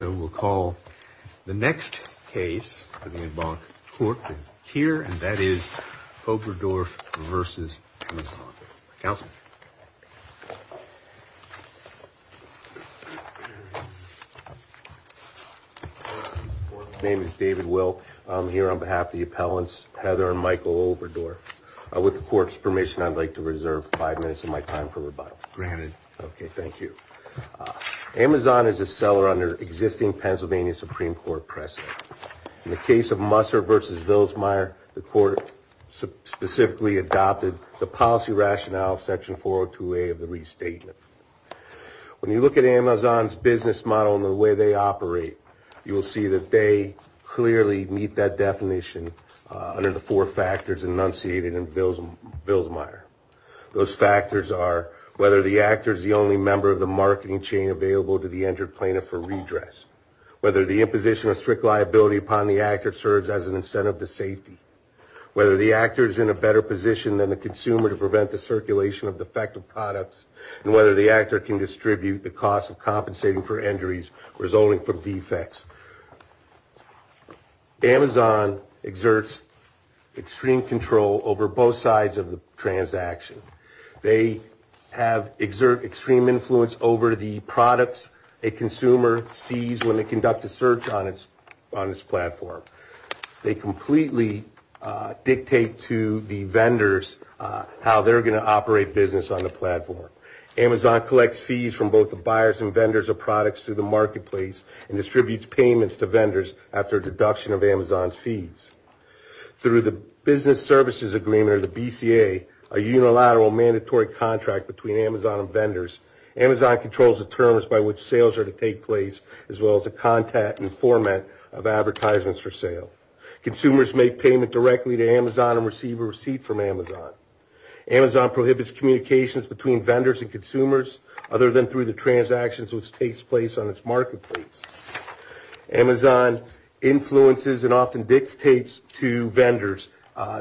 And we'll call the next case for the Advanced Court here, and that is Oberdorf v. Amazon. Counsel. His name is David Wilk. I'm here on behalf of the appellants, Heather and Michael Oberdorf. With the court's permission, I'd like to reserve five minutes of my time for rebuttal. Granted. OK, thank you. Amazon is a seller under existing Pennsylvania Supreme Court precedent. In the case of Musser v. Vilsmeier, the court specifically adopted the policy rationale, section 402A of the restatement. When you look at Amazon's business model and the way they operate, you will see that they clearly meet that definition under the four factors enunciated in Vilsmeier. Those factors are whether the actor is the only member of the marketing chain available to the injured plaintiff for redress, whether the imposition of strict liability upon the actor serves as an incentive to safety, whether the actor is in a better position than the consumer to prevent the circulation of defective products, and whether the actor can distribute the cost of compensating for injuries resulting from defects. Amazon exerts extreme control over both sides of the transaction. They have exerted extreme influence over the products a consumer sees when they conduct a search on its platform. They completely dictate to the vendors how they're going to operate business on the platform. Amazon collects fees from both the buyers and vendors of products through the marketplace and distributes payments to vendors after a deduction of Amazon's fees. Through the Business Services Agreement or the BCA, a unilateral mandatory contract between Amazon and vendors, Amazon controls the terms by which sales are to take place as well as the content and format of advertisements for sale. Consumers make payment directly to Amazon and receive a receipt from Amazon. Amazon prohibits communications between vendors and consumers other than through the transactions which takes place on its marketplace. Amazon influences and often dictates to vendors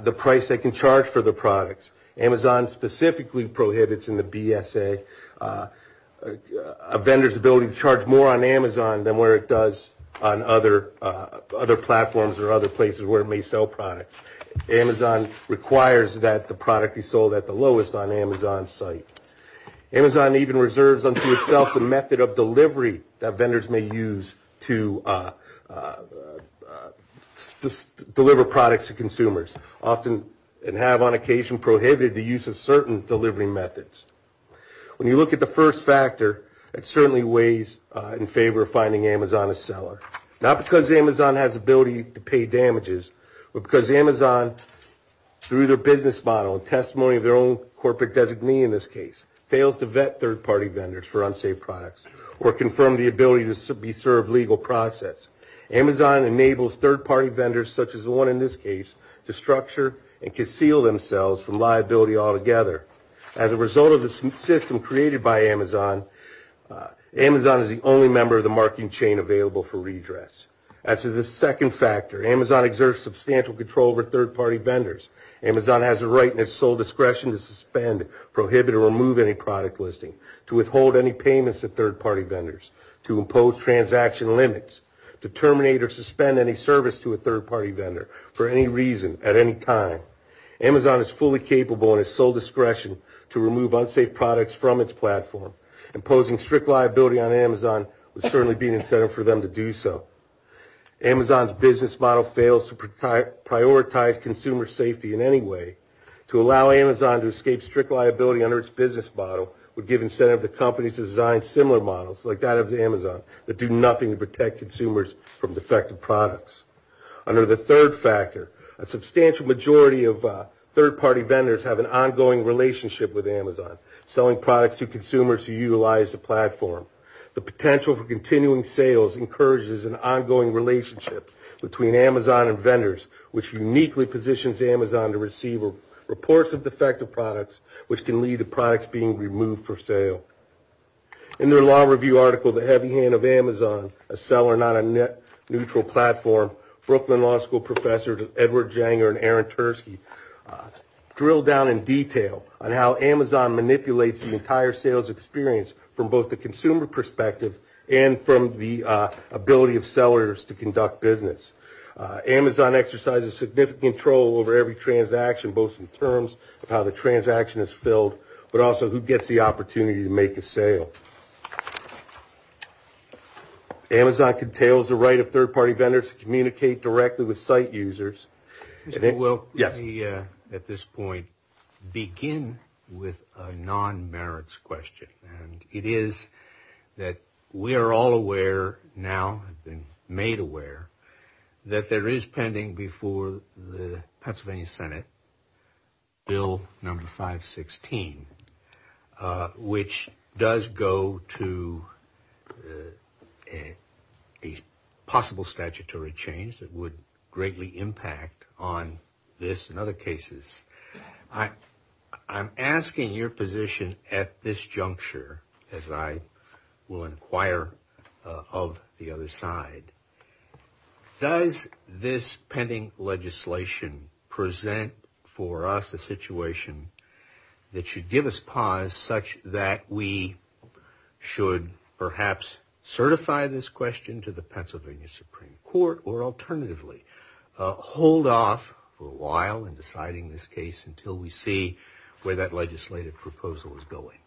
the price they can charge for the products. Amazon specifically prohibits in the BSA a vendor's ability to charge more on Amazon than where it does on other platforms or other places where it may sell products. Amazon requires that the product be sold at the lowest on Amazon's site. Amazon even reserves unto itself the method of delivery that vendors may use to deliver products to consumers, often and have on occasion prohibited the use of certain delivery methods. When you look at the first factor, it certainly weighs in favor of finding Amazon a seller. Not because Amazon has ability to pay damages, but because Amazon, through their business model and testimony of their own corporate designee in this case, fails to vet third-party vendors for unsafe products or confirm the ability to be served legal process. Amazon enables third-party vendors, such as the one in this case, to structure and conceal themselves from liability altogether. As a result of the system created by Amazon, Amazon is the only member of the marketing chain available for redress. As to the second factor, Amazon exerts substantial control over third-party vendors. Amazon has a right and its sole discretion to suspend, prohibit, or remove any product listing, to withhold any payments to third-party vendors, to impose transaction limits, to terminate or suspend any service to a third-party vendor for any reason at any time. Amazon is fully capable in its sole discretion to remove unsafe products from its platform. Imposing strict liability on Amazon would certainly be an incentive for them to do so. Amazon's business model fails to prioritize consumer safety in any way. To allow Amazon to escape strict liability under its business model would give incentive to companies to design similar models, like that of Amazon, that do nothing to protect consumers from defective products. Under the third factor, a substantial majority of third-party vendors have an ongoing relationship with Amazon, selling products to consumers who utilize the platform. The potential for continuing sales encourages an ongoing relationship between Amazon and vendors, which uniquely positions Amazon to receive reports of defective products, which can lead to products being removed for sale. In their law review article, The Heavy Hand of Amazon, A Seller Not a Net Neutral Platform, Brooklyn Law School professors Edward Janger and Aaron Tursky drill down in detail on how Amazon manipulates the entire sales experience from both the consumer perspective and from the ability of sellers to conduct business. Amazon exercises significant control over every transaction, both in terms of how the transaction is filled, but also who gets the opportunity to make a sale. Amazon entails the right of third-party vendors to communicate directly with site users. Well, let me at this point begin with a non-merits question, and it is that we are all aware now, have been made aware, that there is pending before the Pennsylvania Senate Bill number 516, which does go to a possible statutory change that would greatly impact on this and other cases. I'm asking your position at this juncture, as I will inquire of the other side, does this pending legislation present for us a situation that should give us pause such that we should perhaps certify this question to the Pennsylvania Supreme Court, or alternatively hold off for a while in deciding this case until we see where that legislative proposal is going?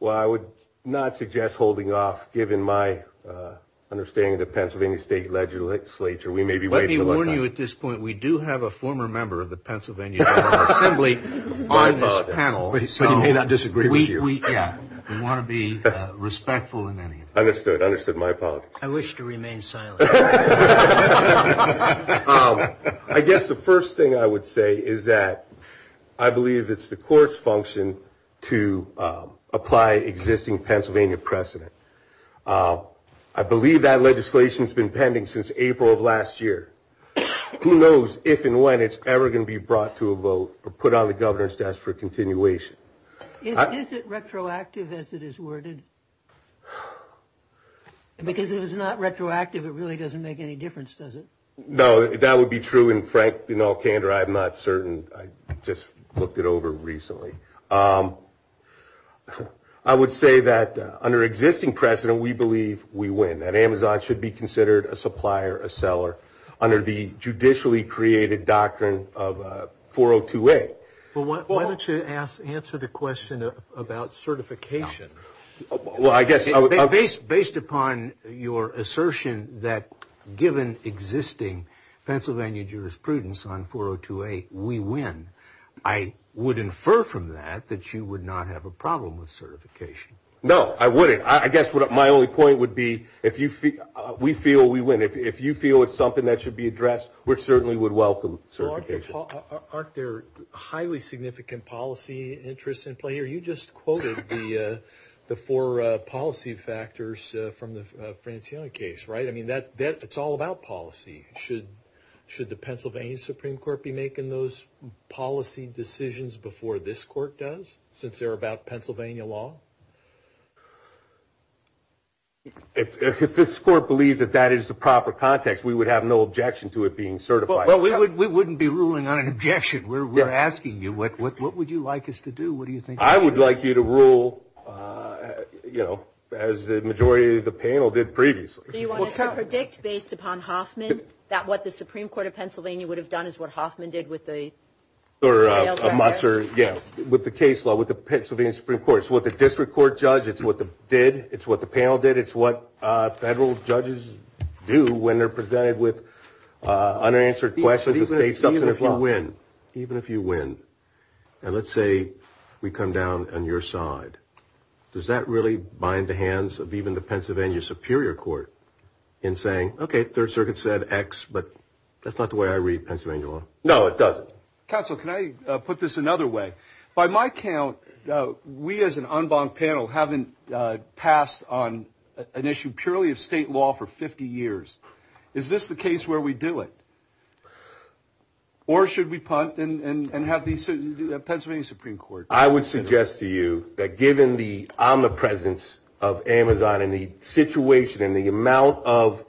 Well, I would not suggest holding off, given my understanding of the Pennsylvania State Legislature. We may be waiting a long time. Let me warn you at this point, we do have a former member of the Pennsylvania Assembly on this panel. I apologize. But he may not disagree with you. Yeah, we want to be respectful in any of this. Understood. Understood my apologies. I wish to remain silent. I guess the first thing I would say is that I believe it's the court's function to apply existing Pennsylvania precedent. I believe that legislation has been pending since April of last year. Who knows if and when it's ever going to be brought to a vote or put on the governor's desk for continuation. Is it retroactive as it is worded? Because if it's not retroactive, it really doesn't make any difference, does it? No, that would be true. And, Frank, in all candor, I'm not certain. I just looked it over recently. I would say that under existing precedent, we believe we win, that Amazon should be considered a supplier, a seller, under the judicially created doctrine of 402A. Why don't you answer the question about certification? Based upon your assertion that given existing Pennsylvania jurisprudence on 402A, we win, I would infer from that that you would not have a problem with certification. No, I wouldn't. I guess my only point would be we feel we win. If you feel it's something that should be addressed, we certainly would welcome certification. Aren't there highly significant policy interests in play? Mayor, you just quoted the four policy factors from the Francione case, right? I mean, it's all about policy. Should the Pennsylvania Supreme Court be making those policy decisions before this court does, since they're about Pennsylvania law? If this court believed that that is the proper context, we would have no objection to it being certified. Well, we wouldn't be ruling on an objection. We're asking you, what would you like us to do? What do you think? I would like you to rule, you know, as the majority of the panel did previously. Do you want us to predict based upon Hoffman that what the Supreme Court of Pennsylvania would have done is what Hoffman did with the or Muster, yeah, with the case law with the Pennsylvania Supreme Court? It's what the district court judge, it's what the did, it's what the panel did, it's what federal judges do when they're presented with unanswered questions. Even if you win. Even if you win. And let's say we come down on your side. Does that really bind the hands of even the Pennsylvania Superior Court in saying, okay, Third Circuit said X, but that's not the way I read Pennsylvania law. No, it doesn't. Counsel, can I put this another way? By my count, we as an en banc panel haven't passed on an issue purely of state law for 50 years. Is this the case where we do it? Or should we punt and have the Pennsylvania Supreme Court? I would suggest to you that given the omnipresence of Amazon and the situation and the amount of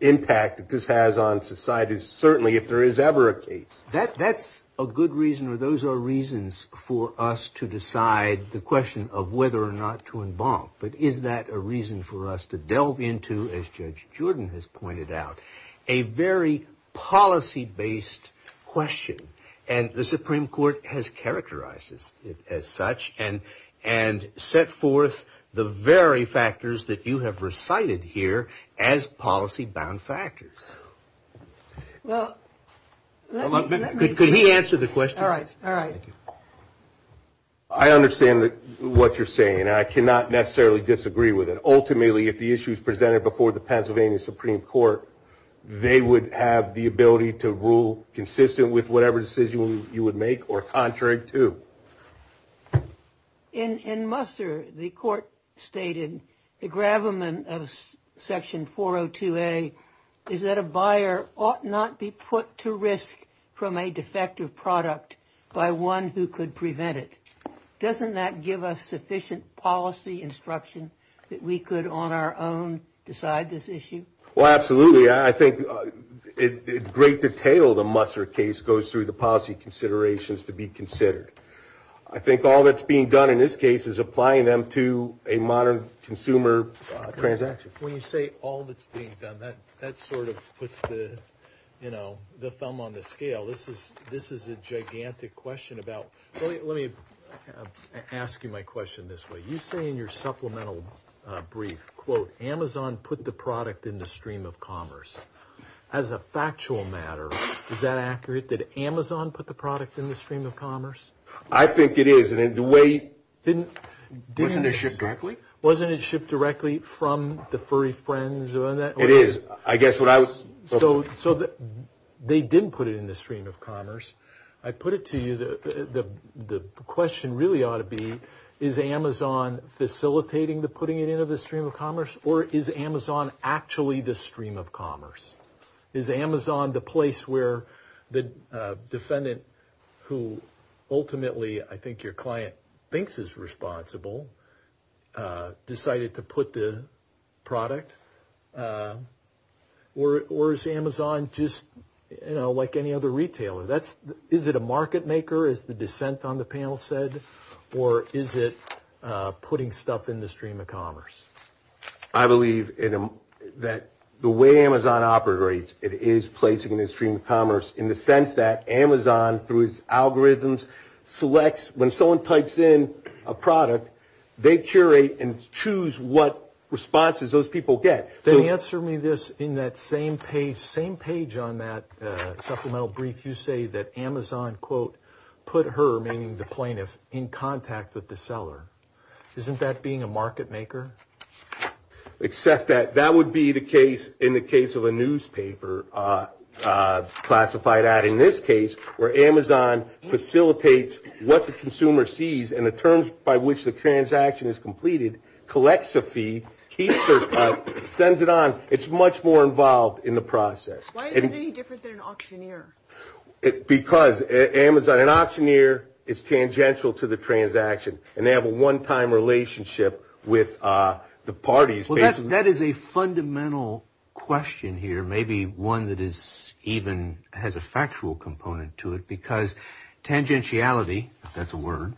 impact that this has on society, certainly if there is ever a case. That's a good reason or those are reasons for us to decide the question of whether or not to en banc. But is that a reason for us to delve into, as Judge Jordan has pointed out, a very policy-based question and the Supreme Court has characterized it as such and set forth the very factors that you have recited here as policy-bound factors. Well, let me. Could he answer the question? All right. All right. I understand what you're saying. I cannot necessarily disagree with it. Ultimately, if the issue is presented before the Pennsylvania Supreme Court, they would have the ability to rule consistent with whatever decision you would make or contrary to. In Musser, the court stated the gravamen of Section 402A is that a buyer ought not be put to risk from a defective product by one who could prevent it. Doesn't that give us sufficient policy instruction that we could on our own decide this issue? Well, absolutely. I think in great detail the Musser case goes through the policy considerations to be considered. I think all that's being done in this case is applying them to a modern consumer transaction. When you say all that's being done, that sort of puts the thumb on the scale. This is a gigantic question about. Let me ask you my question this way. You say in your supplemental brief, quote, Amazon put the product in the stream of commerce. As a factual matter, is that accurate? Did Amazon put the product in the stream of commerce? I think it is. Wasn't it shipped directly? Wasn't it shipped directly from the furry friends? It is. So they didn't put it in the stream of commerce. I put it to you. The question really ought to be is Amazon facilitating the putting it into the stream of commerce or is Amazon actually the stream of commerce? Is Amazon the place where the defendant who ultimately I think your client thinks is responsible decided to put the product? Or is Amazon just like any other retailer? Is it a market maker, as the dissent on the panel said, or is it putting stuff in the stream of commerce? I believe that the way Amazon operates, it is placing it in the stream of commerce in the sense that Amazon, through its algorithms, selects when someone types in a product, they curate and choose what responses those people get. Then answer me this. In that same page on that supplemental brief, you say that Amazon, quote, put her, meaning the plaintiff, in contact with the seller. Isn't that being a market maker? Except that that would be the case in the case of a newspaper classified ad. In this case, where Amazon facilitates what the consumer sees and the terms by which the transaction is completed, collects a fee, keeps her cut, sends it on. It's much more involved in the process. Why is it any different than an auctioneer? Because Amazon, an auctioneer is tangential to the transaction. And they have a one-time relationship with the parties. Well, that is a fundamental question here, maybe one that even has a factual component to it, because tangentiality, if that's a word,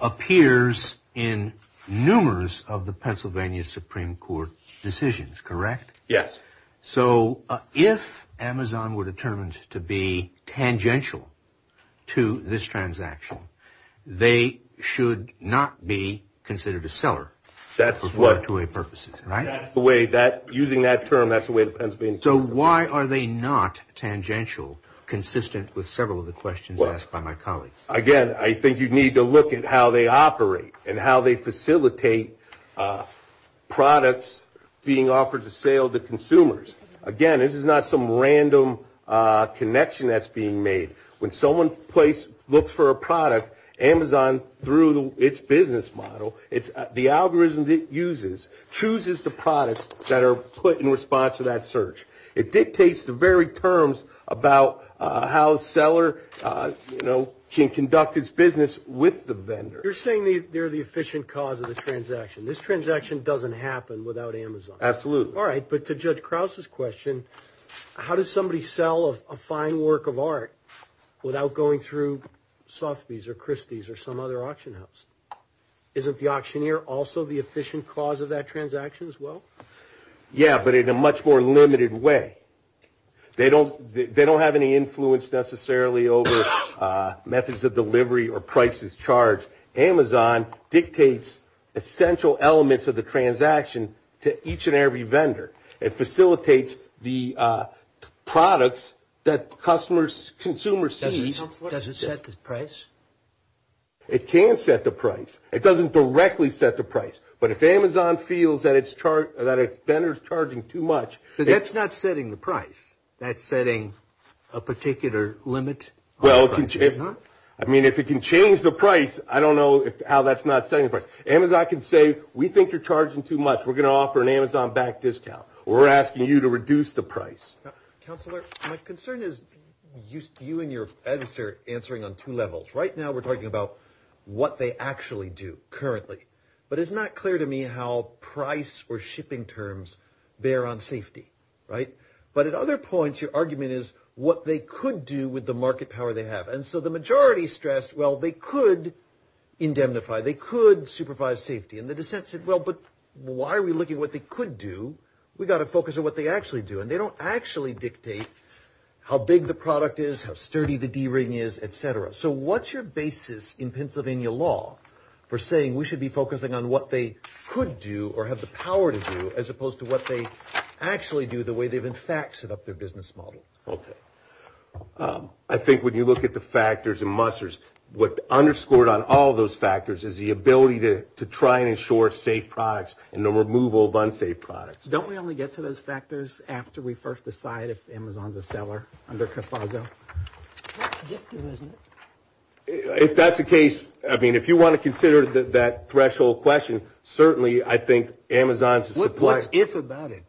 appears in numerous of the Pennsylvania Supreme Court decisions, correct? Yes. So if Amazon were determined to be tangential to this transaction, they should not be considered a seller for two-way purposes, right? That's the way that, using that term, that's the way the Pennsylvania Supreme Court- So why are they not tangential, consistent with several of the questions asked by my colleagues? Well, again, I think you need to look at how they operate and how they facilitate products being offered to sale to consumers. Again, this is not some random connection that's being made. When someone looks for a product, Amazon, through its business model, the algorithm it uses chooses the products that are put in response to that search. It dictates the very terms about how a seller can conduct its business with the vendor. You're saying they're the efficient cause of the transaction. This transaction doesn't happen without Amazon. Absolutely. All right, but to Judge Krause's question, how does somebody sell a fine work of art without going through Sotheby's or Christie's or some other auction house? Isn't the auctioneer also the efficient cause of that transaction as well? Yeah, but in a much more limited way. They don't have any influence necessarily over methods of delivery or prices charged. Amazon dictates essential elements of the transaction to each and every vendor. It facilitates the products that consumers see. Does it set the price? It can set the price. It doesn't directly set the price. But if Amazon feels that a vendor is charging too much- So that's not setting the price. That's setting a particular limit? Well, I mean, if it can change the price, I don't know how that's not setting the price. Amazon can say, we think you're charging too much. We're going to offer an Amazon back discount. We're asking you to reduce the price. Counselor, my concern is you and your answer answering on two levels. Right now we're talking about what they actually do currently. But it's not clear to me how price or shipping terms bear on safety, right? But at other points, your argument is what they could do with the market power they have. And so the majority stressed, well, they could indemnify, they could supervise safety. And the dissent said, well, but why are we looking at what they could do? We've got to focus on what they actually do. And they don't actually dictate how big the product is, how sturdy the D-ring is, et cetera. So what's your basis in Pennsylvania law for saying we should be focusing on what they could do or have the power to do as opposed to what they actually do the way they've in fact set up their business model? Okay. I think when you look at the factors and musters, what underscored on all those factors is the ability to try and ensure safe products and the removal of unsafe products. So don't we only get to those factors after we first decide if Amazon's a seller under CAFASO? If that's the case, I mean, if you want to consider that threshold question, certainly I think Amazon's a supplier. What's if about it?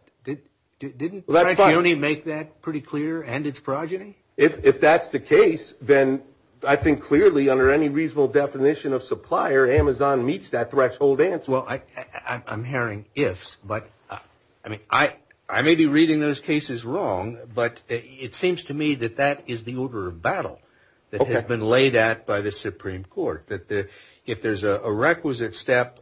Didn't Frank Dionne make that pretty clear and its progeny? If that's the case, then I think clearly under any reasonable definition of supplier, Amazon meets that threshold answer. Yes, well, I'm hearing ifs, but I mean, I may be reading those cases wrong, but it seems to me that that is the order of battle that has been laid out by the Supreme Court, that if there's a requisite step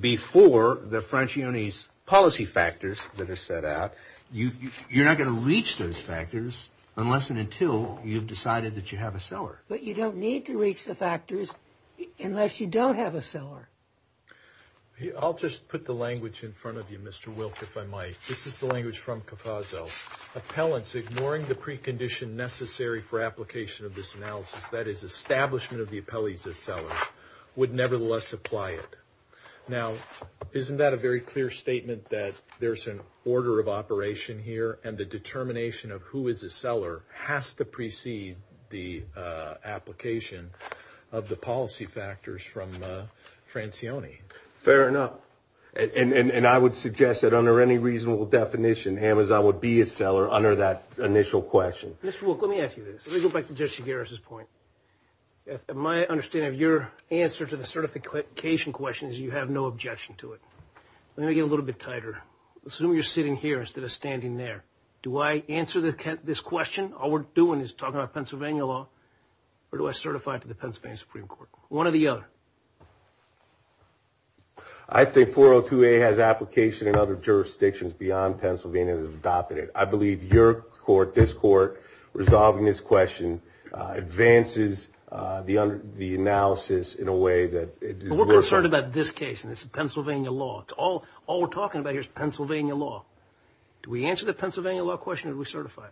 before the French union's policy factors that are set out, you're not going to reach those factors unless and until you've decided that you have a seller. But you don't need to reach the factors unless you don't have a seller. I'll just put the language in front of you, Mr. Wilk, if I might. This is the language from CAFASO. Appellants ignoring the precondition necessary for application of this analysis, that is establishment of the appellees as sellers, would nevertheless apply it. Now, isn't that a very clear statement that there's an order of operation here and the determination of who is a seller has to precede the application of the policy factors from Francione? Fair enough. And I would suggest that under any reasonable definition, Amazon would be a seller under that initial question. Mr. Wilk, let me ask you this. Let me go back to Judge Segarra's point. My understanding of your answer to the certification question is you have no objection to it. Let me get a little bit tighter. Assume you're sitting here instead of standing there. Do I answer this question? All we're doing is talking about Pennsylvania law, or do I certify it to the Pennsylvania Supreme Court? One or the other. I think 402A has application in other jurisdictions beyond Pennsylvania that is adopting it. I believe your court, this court, resolving this question advances the analysis in a way that it does not. We're concerned about this case and this Pennsylvania law. It's all we're talking about here is Pennsylvania law. Do we answer the Pennsylvania law question or do we certify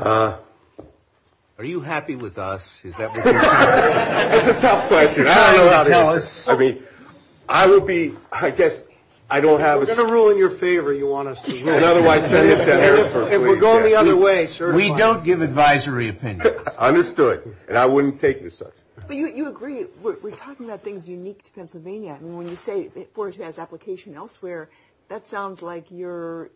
it? Are you happy with us? That's a tough question. I don't know how to answer it. I mean, I would be, I guess, I don't have a... We're going to rule in your favor, you want us to... If we're going the other way, certify. We don't give advisory opinions. Understood. And I wouldn't take this up. But you agree. We're talking about things unique to Pennsylvania. And when you say 402A has application elsewhere, that sounds like you're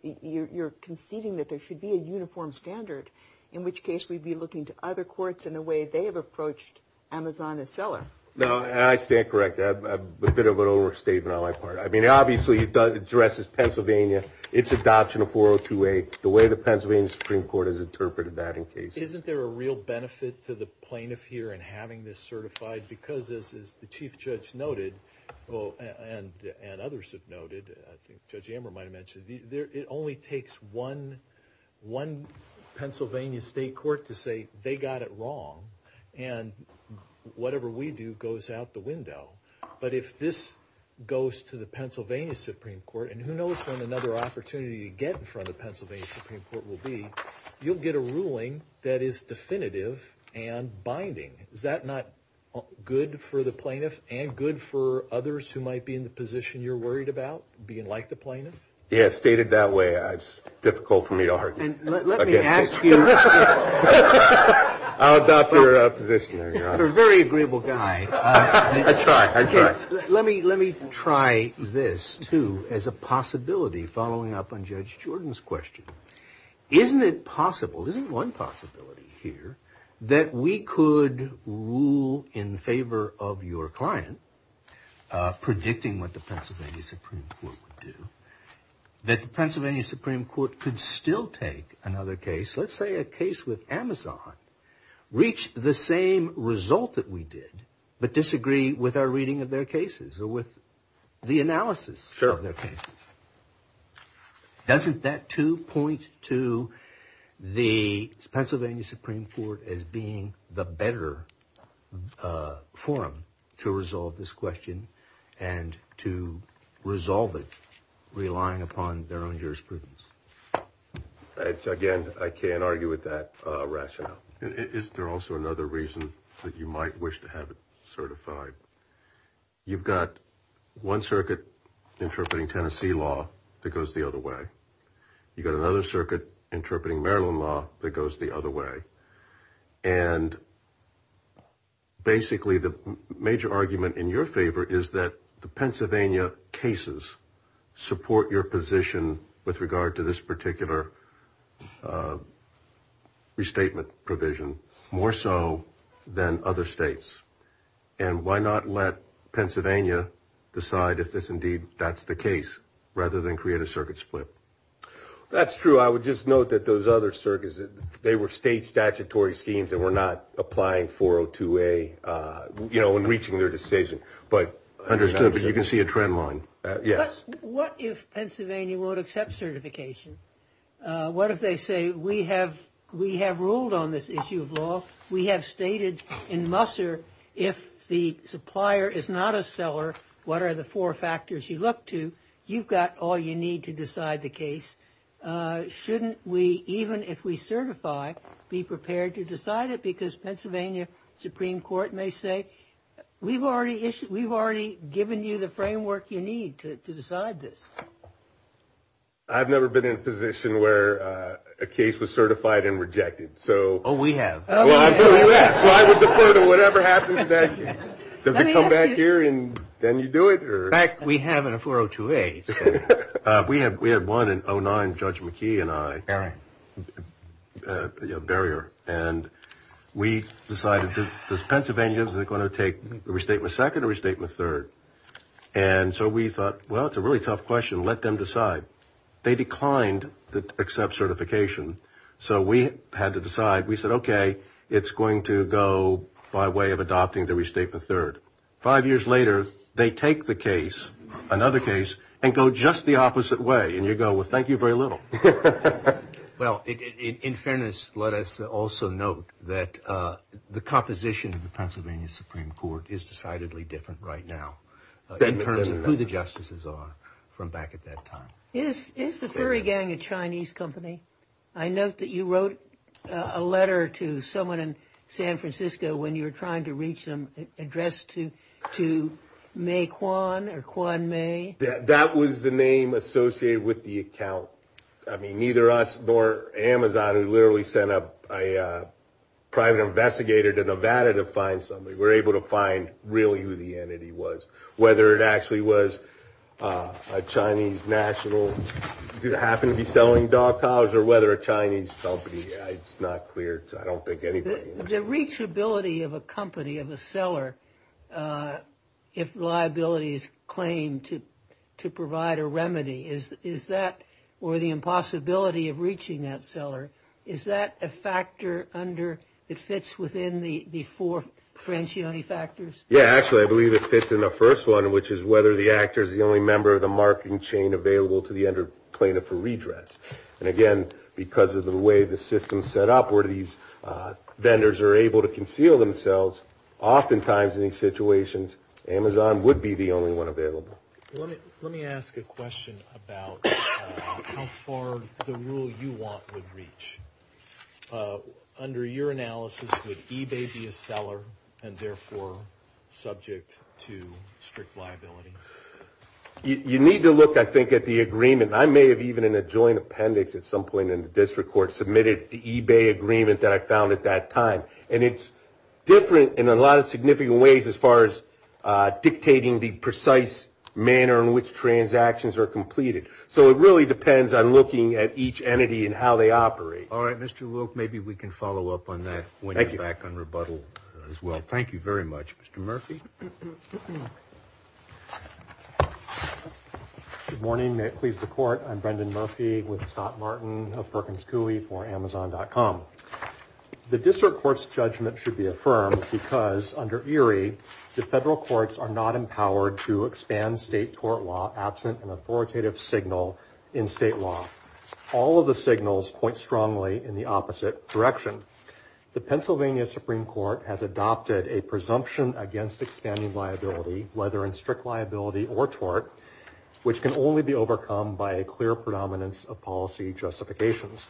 conceding that there should be a uniform standard, in which case we'd be looking to other courts in the way they have approached Amazon as seller. No, and I stand corrected. I have a bit of an overstatement on my part. I mean, obviously, it addresses Pennsylvania, its adoption of 402A, the way the Pennsylvania Supreme Court has interpreted that in cases. Isn't there a real benefit to the plaintiff here in having this certified? Because, as the Chief Judge noted, and others have noted, Judge Amber might have mentioned, it only takes one Pennsylvania state court to say they got it wrong, and whatever we do goes out the window. But if this goes to the Pennsylvania Supreme Court, and who knows when another opportunity to get in front of the Pennsylvania Supreme Court will be, you'll get a ruling that is definitive and binding. Is that not good for the plaintiff and good for others who might be in the position you're worried about, being like the plaintiff? Yeah, stated that way, it's difficult for me to argue against this. Let me ask you. I'll adopt your position. You're a very agreeable guy. I try. I try. Let me try this, too, as a possibility, following up on Judge Jordan's question. Isn't it possible, isn't one possibility here, that we could rule in favor of your client, predicting what the Pennsylvania Supreme Court would do, that the Pennsylvania Supreme Court could still take another case, let's say a case with Amazon, reach the same result that we did, but disagree with our reading of their cases or with the analysis of their cases? Sure. Doesn't that, too, point to the Pennsylvania Supreme Court as being the better forum to resolve this question and to resolve it relying upon their own jurisprudence? Again, I can't argue with that rationale. Is there also another reason that you might wish to have it certified? You've got one circuit interpreting Tennessee law that goes the other way. You've got another circuit interpreting Maryland law that goes the other way. And basically the major argument in your favor is that the Pennsylvania cases support your position with regard to this particular restatement provision, more so than other states. And why not let Pennsylvania decide if indeed that's the case rather than create a circuit split? That's true. I would just note that those other circuits, they were state statutory schemes and were not applying 402A, you know, in reaching their decision. Understood, but you can see a trend line. Yes. What if Pennsylvania won't accept certification? What if they say, we have ruled on this issue of law. We have stated in Musser if the supplier is not a seller, what are the four factors you look to? You've got all you need to decide the case. Shouldn't we, even if we certify, be prepared to decide it? Because Pennsylvania Supreme Court may say, we've already given you the framework you need to decide this. I've never been in a position where a case was certified and rejected. Oh, we have. So I would defer to whatever happens next. Does it come back here and then you do it? In fact, we have in a 402A. We had one in 09, Judge McKee and I. All right. Barrier. And we decided, does Pennsylvania, is it going to take a restatement second or restatement third? And so we thought, well, it's a really tough question. Let them decide. They declined to accept certification. So we had to decide. We said, okay, it's going to go by way of adopting the restatement third. Five years later, they take the case, another case, and go just the opposite way. And you go, well, thank you very little. Well, in fairness, let us also note that the composition of the Pennsylvania Supreme Court is decidedly different right now. In terms of who the justices are from back at that time. Is the furry gang a Chinese company? I note that you wrote a letter to someone in San Francisco when you were trying to reach them addressed to May Quan or Quan May. That was the name associated with the account. I mean, neither us nor Amazon, who literally sent up a private investigator to Nevada to find somebody, were able to find really who the entity was. Whether it actually was a Chinese national. Did it happen to be selling dog cows? Or whether a Chinese company. It's not clear. I don't think anybody knows. The reachability of a company, of a seller, if liabilities claim to provide a remedy. Is that, or the impossibility of reaching that seller, is that a factor under, it fits within the four Francioni factors? Yeah, actually, I believe it fits in the first one, which is whether the actor is the only member of the marketing chain available to the under plaintiff for redress. And again, because of the way the system is set up, where these vendors are able to conceal themselves, oftentimes in these situations, Amazon would be the only one available. Let me ask a question about how far the rule you want would reach. Under your analysis, would eBay be a seller and therefore subject to strict liability? You need to look, I think, at the agreement. I may have even in a joint appendix at some point in the district court submitted the eBay agreement that I found at that time. And it's different in a lot of significant ways as far as dictating the precise manner in which transactions are completed. So it really depends on looking at each entity and how they operate. All right, Mr. Wilk, maybe we can follow up on that when you're back on rebuttal as well. Thank you very much. Mr. Murphy. Good morning. May it please the court. I'm Brendan Murphy with Scott Martin of Perkins Cooley for Amazon.com. The district court's judgment should be affirmed because under ERIE, the federal courts are not empowered to expand state tort law absent an authoritative signal in state law. All of the signals point strongly in the opposite direction. The Pennsylvania Supreme Court has adopted a presumption against expanding liability, whether in strict liability or tort, which can only be overcome by a clear predominance of policy justifications.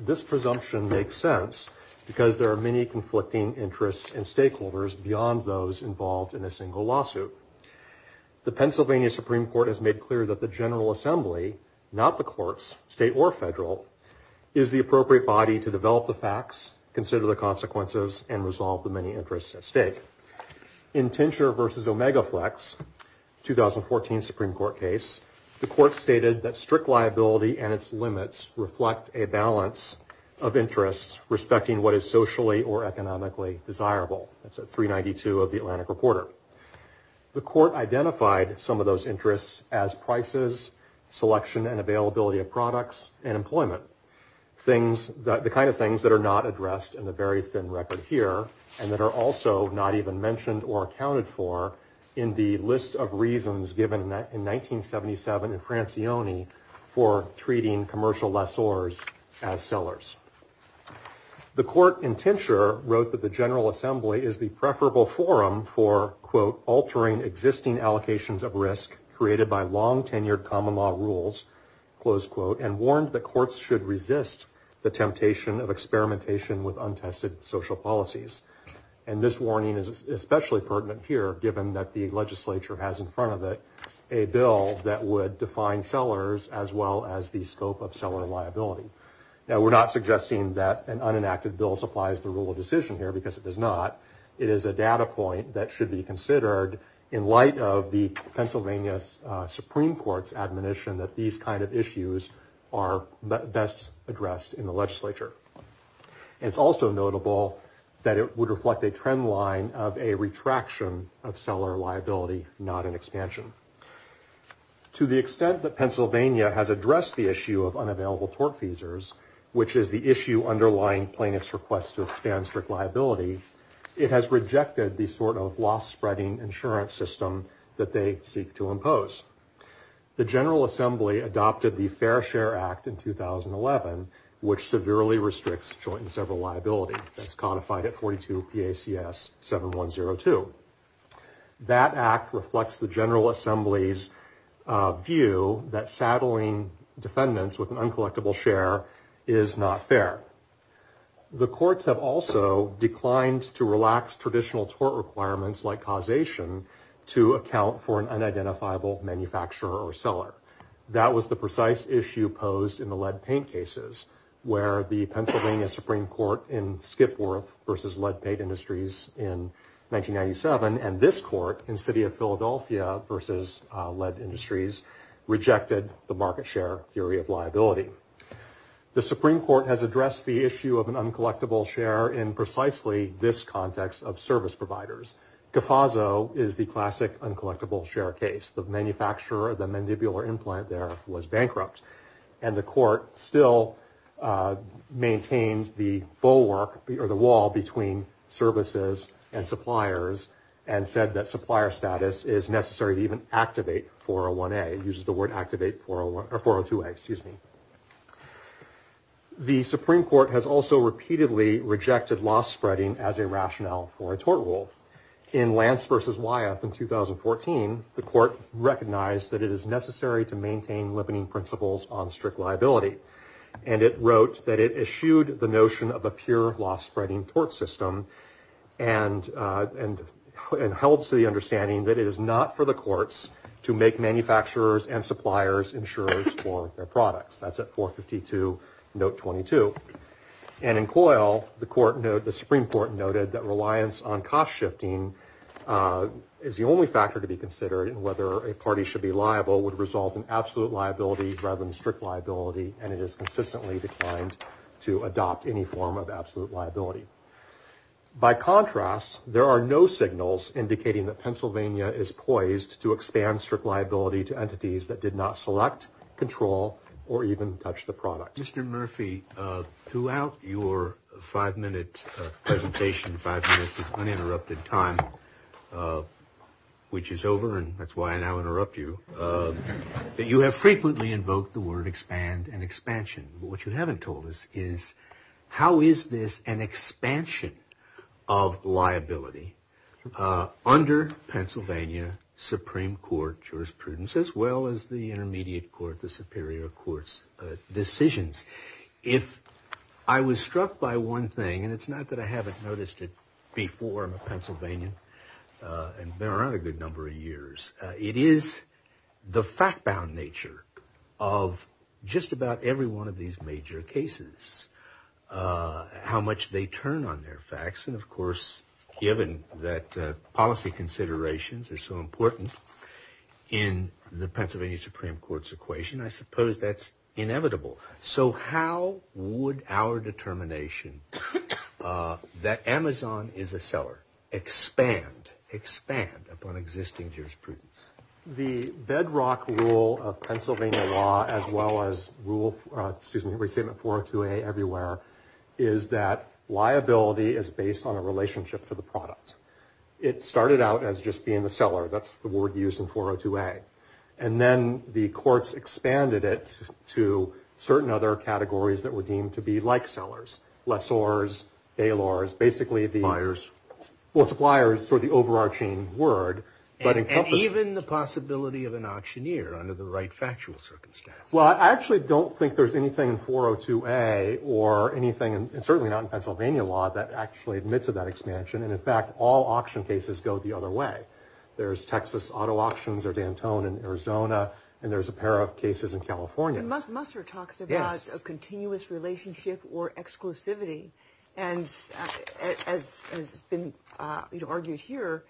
This presumption makes sense because there are many conflicting interests and stakeholders beyond those involved in a single lawsuit. The Pennsylvania Supreme Court has made clear that the General Assembly, not the courts, state or federal, is the appropriate body to develop the facts, consider the consequences, and resolve the many interests at stake. In Tincture v. Omega Flex, 2014 Supreme Court case, the court stated that strict liability and its limits reflect a balance of interests respecting what is socially or economically desirable. That's at 392 of the Atlantic Reporter. The court identified some of those interests as prices, selection and availability of products, and employment, the kind of things that are not addressed in the very thin record here and that are also not even mentioned or accounted for in the list of reasons given in 1977 in Francione for treating commercial lessors as sellers. The court in Tincture wrote that the General Assembly is the preferable forum for, quote, altering existing allocations of risk created by long tenured common law rules, close quote, and warned that courts should resist the temptation of experimentation with untested social policies. And this warning is especially pertinent here, given that the legislature has in front of it a bill that would define sellers as well as the scope of seller liability. Now, we're not suggesting that an unenacted bill supplies the rule of decision here, because it does not. It is a data point that should be considered in light of the Pennsylvania Supreme Court's admonition that these kind of issues are best addressed in the legislature. It's also notable that it would reflect a trend line of a retraction of seller liability, not an expansion. To the extent that Pennsylvania has addressed the issue of unavailable tort feasors, which is the issue underlying plaintiff's request to expand strict liability, it has rejected the sort of loss-spreading insurance system that they seek to impose. The General Assembly adopted the Fair Share Act in 2011, which severely restricts joint and several liability. That's codified at 42 PACS 7102. That act reflects the General Assembly's view that saddling defendants with an uncollectible share is not fair. The courts have also declined to relax traditional tort requirements like causation to account for an unidentifiable manufacturer or seller. That was the precise issue posed in the lead paint cases, where the Pennsylvania Supreme Court in Skipworth v. Lead Paint Industries in 1997 and this court in the city of Philadelphia v. Lead Industries rejected the market share theory of liability. The Supreme Court has addressed the issue of an uncollectible share in precisely this context of service providers. CAFASO is the classic uncollectible share case. The manufacturer of the mandibular implant there was bankrupt. And the court still maintains the bulwark or the wall between services and suppliers and said that supplier status is necessary to even activate 401A. It uses the word activate 401 or 402A, excuse me. The Supreme Court has also repeatedly rejected loss-spreading as a rationale for a tort rule. In Lance v. Wyeth in 2014, the court recognized that it is necessary to maintain limiting principles on strict liability. And it wrote that it eschewed the notion of a pure loss-spreading tort system and held to the understanding that it is not for the courts to make manufacturers and suppliers insurers for their products. That's at 452, note 22. And in Coyle, the Supreme Court noted that reliance on cost-shifting is the only factor to be considered and whether a party should be liable would result in absolute liability rather than strict liability. And it is consistently declined to adopt any form of absolute liability. By contrast, there are no signals indicating that Pennsylvania is poised to expand strict liability to entities that did not select, control, or even touch the product. Mr. Murphy, throughout your five-minute presentation, five minutes is uninterrupted time, which is over and that's why I now interrupt you. You have frequently invoked the word expand and expansion. What you haven't told us is how is this an expansion of liability under Pennsylvania Supreme Court jurisprudence as well as the intermediate court, the superior court's decisions. If I was struck by one thing, and it's not that I haven't noticed it before, I'm from a Pennsylvania and been around a good number of years. It is the fact-bound nature of just about every one of these major cases, how much they turn on their facts. And, of course, given that policy considerations are so important in the Pennsylvania Supreme Court's equation, I suppose that's inevitable. So how would our determination that Amazon is a seller expand, expand upon existing jurisprudence? The bedrock rule of Pennsylvania law as well as rule, excuse me, Resentment 402A everywhere is that liability is based on a relationship to the product. It started out as just being the seller. That's the word used in 402A. And then the courts expanded it to certain other categories that were deemed to be like sellers, lessors, bailors, basically the suppliers for the overarching word. And even the possibility of an auctioneer under the right factual circumstances. Well, I actually don't think there's anything in 402A or anything, and certainly not in Pennsylvania law, that actually admits to that expansion. And, in fact, all auction cases go the other way. There's Texas auto auctions or Dantone in Arizona. And there's a pair of cases in California. And Musser talks about a continuous relationship or exclusivity. And as has been argued here,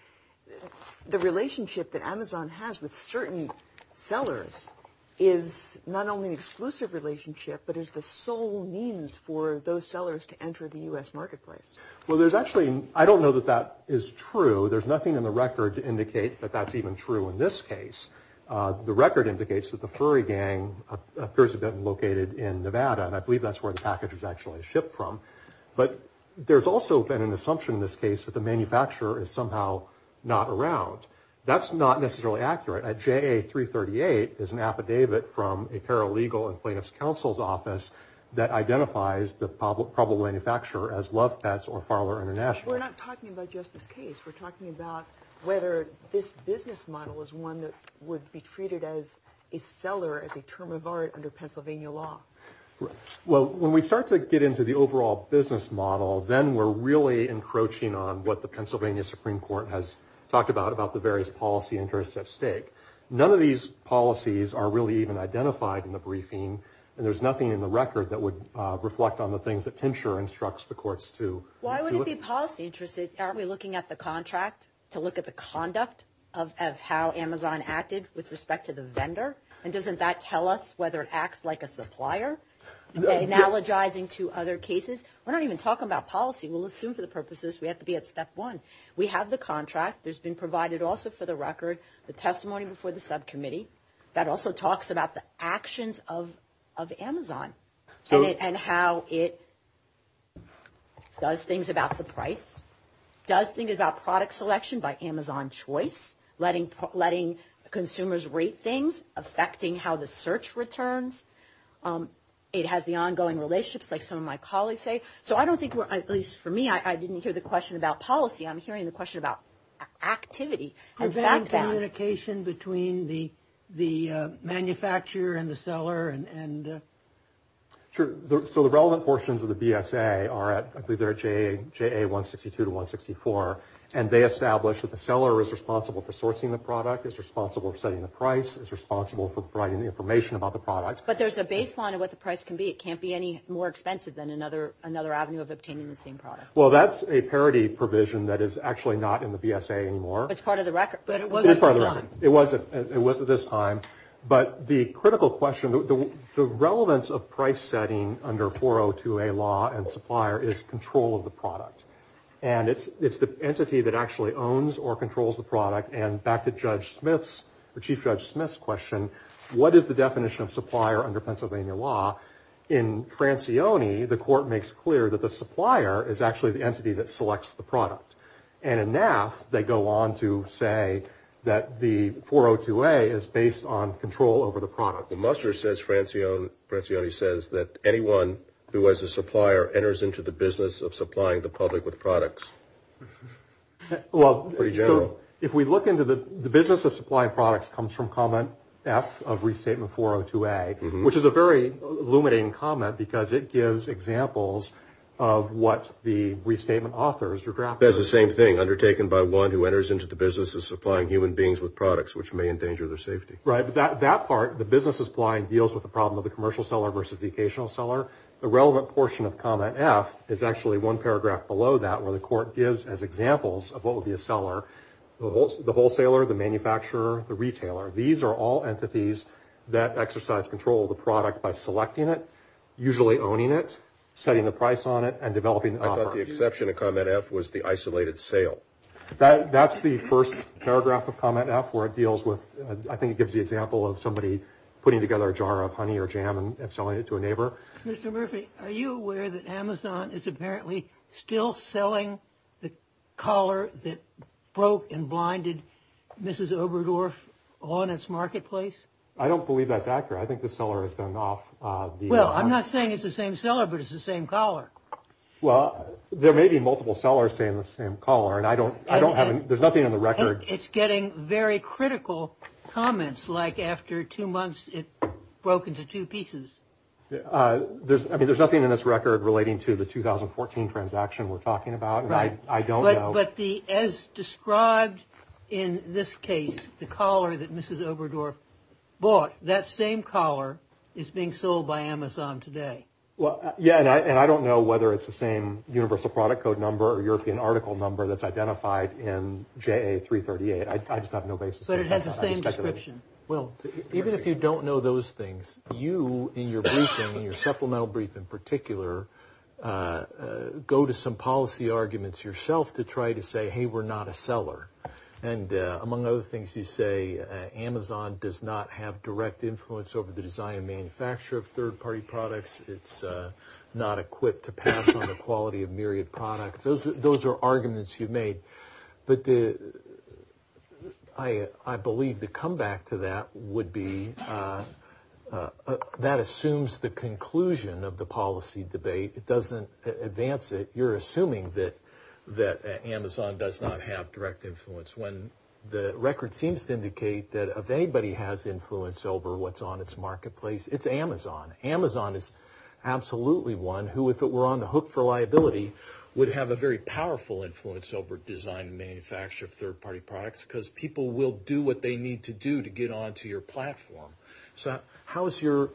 the relationship that Amazon has with certain sellers is not only an exclusive relationship, but is the sole means for those sellers to enter the U.S. marketplace. Well, there's actually I don't know that that is true. There's nothing in the record to indicate that that's even true in this case. The record indicates that the furry gang appears to have been located in Nevada, and I believe that's where the package was actually shipped from. But there's also been an assumption in this case that the manufacturer is somehow not around. That's not necessarily accurate. JA-338 is an affidavit from a paralegal and plaintiff's counsel's office that identifies the probable manufacturer as Love Pets or Farler International. But we're not talking about just this case. We're talking about whether this business model is one that would be treated as a seller, as a term of art under Pennsylvania law. Well, when we start to get into the overall business model, then we're really encroaching on what the Pennsylvania Supreme Court has talked about, about the various policy interests at stake. None of these policies are really even identified in the briefing. And there's nothing in the record that would reflect on the things that Tincture instructs the courts to. Why would it be policy interests? Aren't we looking at the contract to look at the conduct of how Amazon acted with respect to the vendor? And doesn't that tell us whether it acts like a supplier, analogizing to other cases? We're not even talking about policy. We'll assume for the purposes we have to be at step one. We have the contract. There's been provided also for the record the testimony before the subcommittee that also talks about the actions of Amazon and how it does things about the price, does things about product selection by Amazon choice, letting consumers rate things, affecting how the search returns. It has the ongoing relationships, like some of my colleagues say. So I don't think, at least for me, I didn't hear the question about policy. I'm hearing the question about activity. Is there any communication between the manufacturer and the seller? Sure. So the relevant portions of the BSA are at, I believe they're at JA162 to 164, and they establish that the seller is responsible for sourcing the product, is responsible for setting the price, is responsible for providing the information about the product. But there's a baseline of what the price can be. It can't be any more expensive than another avenue of obtaining the same product. Well, that's a parity provision that is actually not in the BSA anymore. It's part of the record, but it wasn't. It is part of the record. It wasn't at this time. But the critical question, the relevance of price setting under 402A law and supplier is control of the product. And it's the entity that actually owns or controls the product. And back to Judge Smith's, or Chief Judge Smith's question, what is the definition of supplier under Pennsylvania law? In Francione, the court makes clear that the supplier is actually the entity that selects the product. And in NAF, they go on to say that the 402A is based on control over the product. Well, Musser says, Francione says that anyone who has a supplier enters into the business of supplying the public with products. Well, so if we look into the business of supplying products comes from comment F of restatement 402A, which is a very illuminating comment because it gives examples of what the restatement authors or drafters. That's the same thing, undertaken by one who enters into the business of supplying human beings with products, which may endanger their safety. Right. That part, the business is blind, deals with the problem of the commercial seller versus the occasional seller. The relevant portion of comment F is actually one paragraph below that, where the court gives as examples of what would be a seller, the wholesaler, the manufacturer, the retailer. These are all entities that exercise control of the product by selecting it, usually owning it, setting the price on it, and developing the offer. I thought the exception to comment F was the isolated sale. That's the first paragraph of comment F where it deals with, I think it gives the example of somebody putting together a jar of honey or jam and selling it to a neighbor. Mr. Murphy, are you aware that Amazon is apparently still selling the collar that broke and blinded Mrs. Oberdorf on its marketplace? I don't believe that's accurate. I think the seller has gone off. Well, I'm not saying it's the same seller, but it's the same collar. Well, there may be multiple sellers saying the same collar, and I don't, I don't have, there's nothing on the record. It's getting very critical comments, like after two months it broke into two pieces. I mean, there's nothing in this record relating to the 2014 transaction we're talking about. Right. I don't know. But as described in this case, the collar that Mrs. Oberdorf bought, that same collar is being sold by Amazon today. Well, yeah, and I don't know whether it's the same universal product code number or European article number that's identified in JA338. I just have no basis. But it has the same description. Well, even if you don't know those things, you, in your briefing, in your supplemental brief in particular, go to some policy arguments yourself to try to say, hey, we're not a seller. And among other things, you say Amazon does not have direct influence over the design and manufacture of third-party products. It's not equipped to pass on the quality of myriad products. Those are arguments you've made. But I believe the comeback to that would be that assumes the conclusion of the policy debate. It doesn't advance it. You're assuming that Amazon does not have direct influence. When the record seems to indicate that if anybody has influence over what's on its marketplace, it's Amazon. Amazon is absolutely one who, if it were on the hook for liability, would have a very powerful influence over design and manufacture of third-party products because people will do what they need to do to get onto your platform. So how is your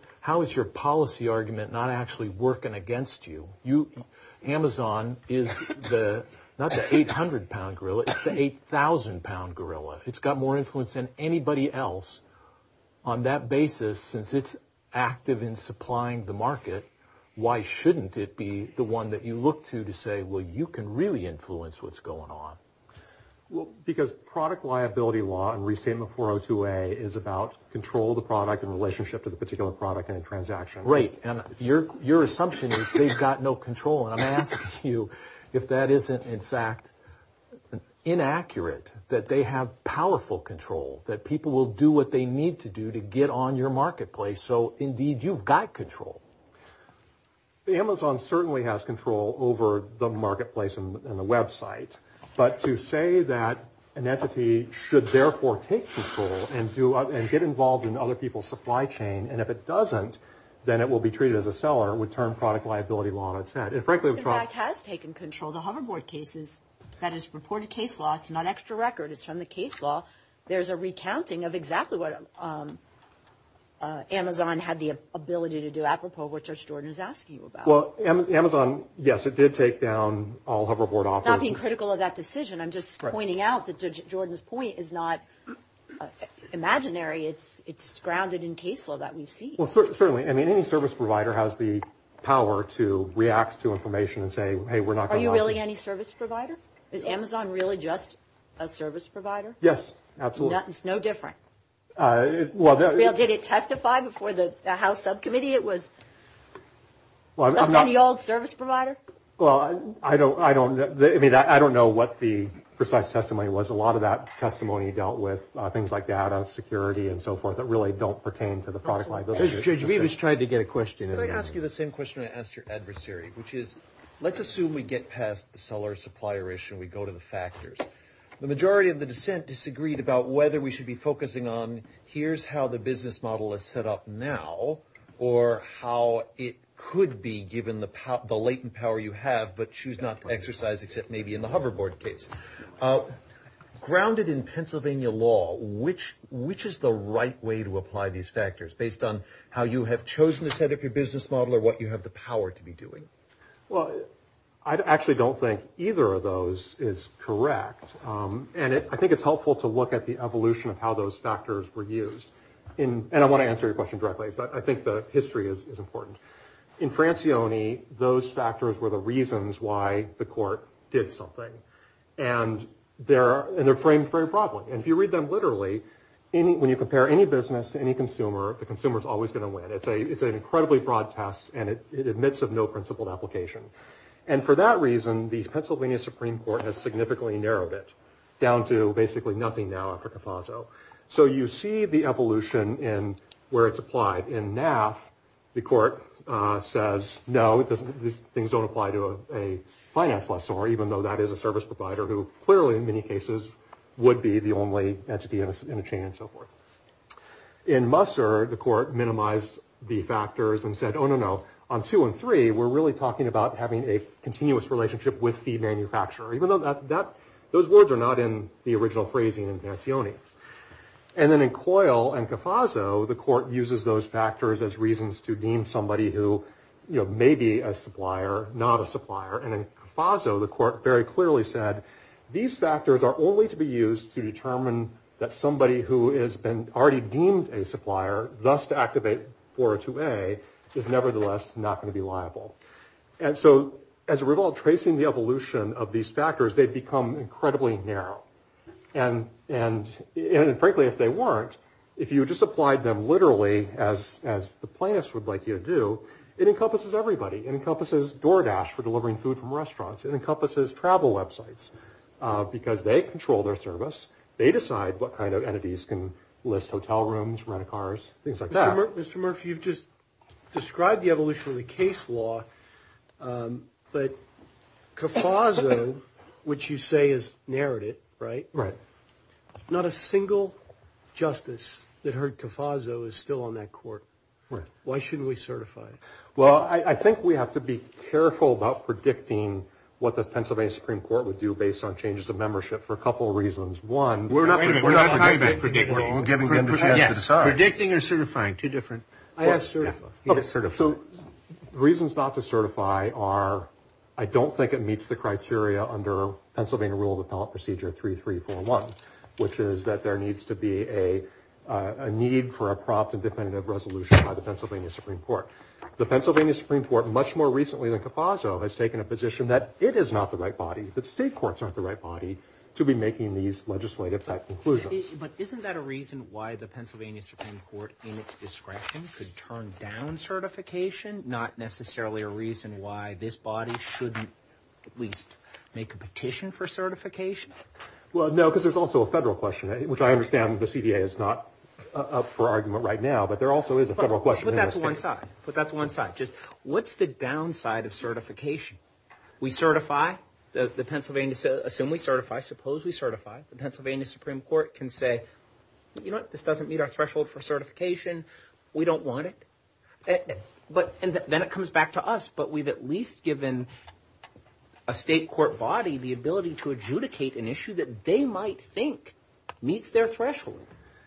policy argument not actually working against you? Amazon is not the 800-pound gorilla. It's the 8,000-pound gorilla. It's got more influence than anybody else. On that basis, since it's active in supplying the market, why shouldn't it be the one that you look to to say, well, you can really influence what's going on? Well, because product liability law and Restatement 402A is about control of the product in relationship to the particular product and transaction. Right. And your assumption is they've got no control. And I'm asking you if that isn't, in fact, inaccurate, that they have powerful control, that people will do what they need to do to get on your marketplace. So, indeed, you've got control. Amazon certainly has control over the marketplace and the Web site. But to say that an entity should therefore take control and get involved in other people's supply chain, and if it doesn't, then it will be treated as a seller would turn product liability law on its head. In fact, it has taken control. The Hoverboard cases that is reported case law, it's not extra record. It's from the case law. There's a recounting of exactly what Amazon had the ability to do, apropos of what Judge Jordan is asking you about. Well, Amazon, yes, it did take down all Hoverboard offers. I'm not being critical of that decision. I'm just pointing out that Judge Jordan's point is not imaginary. It's grounded in case law that we've seen. Well, certainly, I mean, any service provider has the power to react to information and say, hey, we're not really any service provider. Is Amazon really just a service provider? Yes, absolutely. It's no different. Well, did it testify before the House subcommittee? It was the old service provider. Well, I don't I don't I mean, I don't know what the precise testimony was. A lot of that testimony dealt with things like data security and so forth that really don't pertain to the product liability. We just tried to get a question. I ask you the same question I asked your adversary, which is let's assume we get past the seller supplier issue. We go to the factors. The majority of the dissent disagreed about whether we should be focusing on here's how the business model is set up now or how it could be given the latent power you have. But she's not exercise except maybe in the hoverboard case grounded in Pennsylvania law, which which is the right way to apply these factors based on how you have chosen to set up your business model or what you have the power to be doing. Well, I actually don't think either of those is correct. And I think it's helpful to look at the evolution of how those factors were used in. And I want to answer your question directly. But I think the history is important. In France, the only those factors were the reasons why the court did something. And there are in the frame for a problem. And if you read them literally, any when you compare any business to any consumer, the consumer is always going to win. It's a it's an incredibly broad test and it admits of no principled application. And for that reason, the Pennsylvania Supreme Court has significantly narrowed it down to basically nothing now. So you see the evolution and where it's applied in NAF. The court says, no, it doesn't. These things don't apply to a finance last summer, even though that is a service provider who clearly, in many cases, would be the only entity in a chain and so forth. In Musser, the court minimized the factors and said, oh, no, no. On two and three, we're really talking about having a continuous relationship with the manufacturer, even though that those words are not in the original phrasing in Pansione. And then in Coyle and Cofaso, the court uses those factors as reasons to deem somebody who may be a supplier, not a supplier. And in Faso, the court very clearly said these factors are only to be used to determine that somebody who has been already deemed a supplier. Thus, to activate for a two way is nevertheless not going to be liable. And so as a result, tracing the evolution of these factors, they become incredibly narrow. And frankly, if they weren't, if you just applied them literally as the plaintiffs would like you to do, it encompasses everybody. It encompasses DoorDash for delivering food from restaurants. It encompasses travel websites because they control their service. They decide what kind of entities can list hotel rooms, rent a cars, things like that. Mr. Murphy, you've just described the evolution of the case law, but Cofaso, which you say is narrowed it, right? Right. Not a single justice that heard Cofaso is still on that court. Right. Why shouldn't we certify it? Well, I think we have to be careful about predicting what the Pennsylvania Supreme Court would do based on changes of membership for a couple of reasons. One, we're not going to predict. Yes. Predicting or certifying. Two different. I have certified. So the reasons not to certify are I don't think it meets the criteria under Pennsylvania Rule of Appellate Procedure 3341, which is that there needs to be a need for a prompt and definitive resolution by the Pennsylvania Supreme Court. The Pennsylvania Supreme Court, much more recently than Cofaso, has taken a position that it is not the right body, that state courts aren't the right body to be making these legislative type conclusions. But isn't that a reason why the Pennsylvania Supreme Court in its discretion could turn down certification, not necessarily a reason why this body shouldn't at least make a petition for certification? Well, no, because there's also a federal question, which I understand the CDA is not up for argument right now, but there also is a federal question. But that's one side. Just what's the downside of certification? We certify. Assume we certify. Suppose we certify. The Pennsylvania Supreme Court can say, you know what, this doesn't meet our threshold for certification. We don't want it. And then it comes back to us. But we've at least given a state court body the ability to adjudicate an issue that they might think meets their threshold.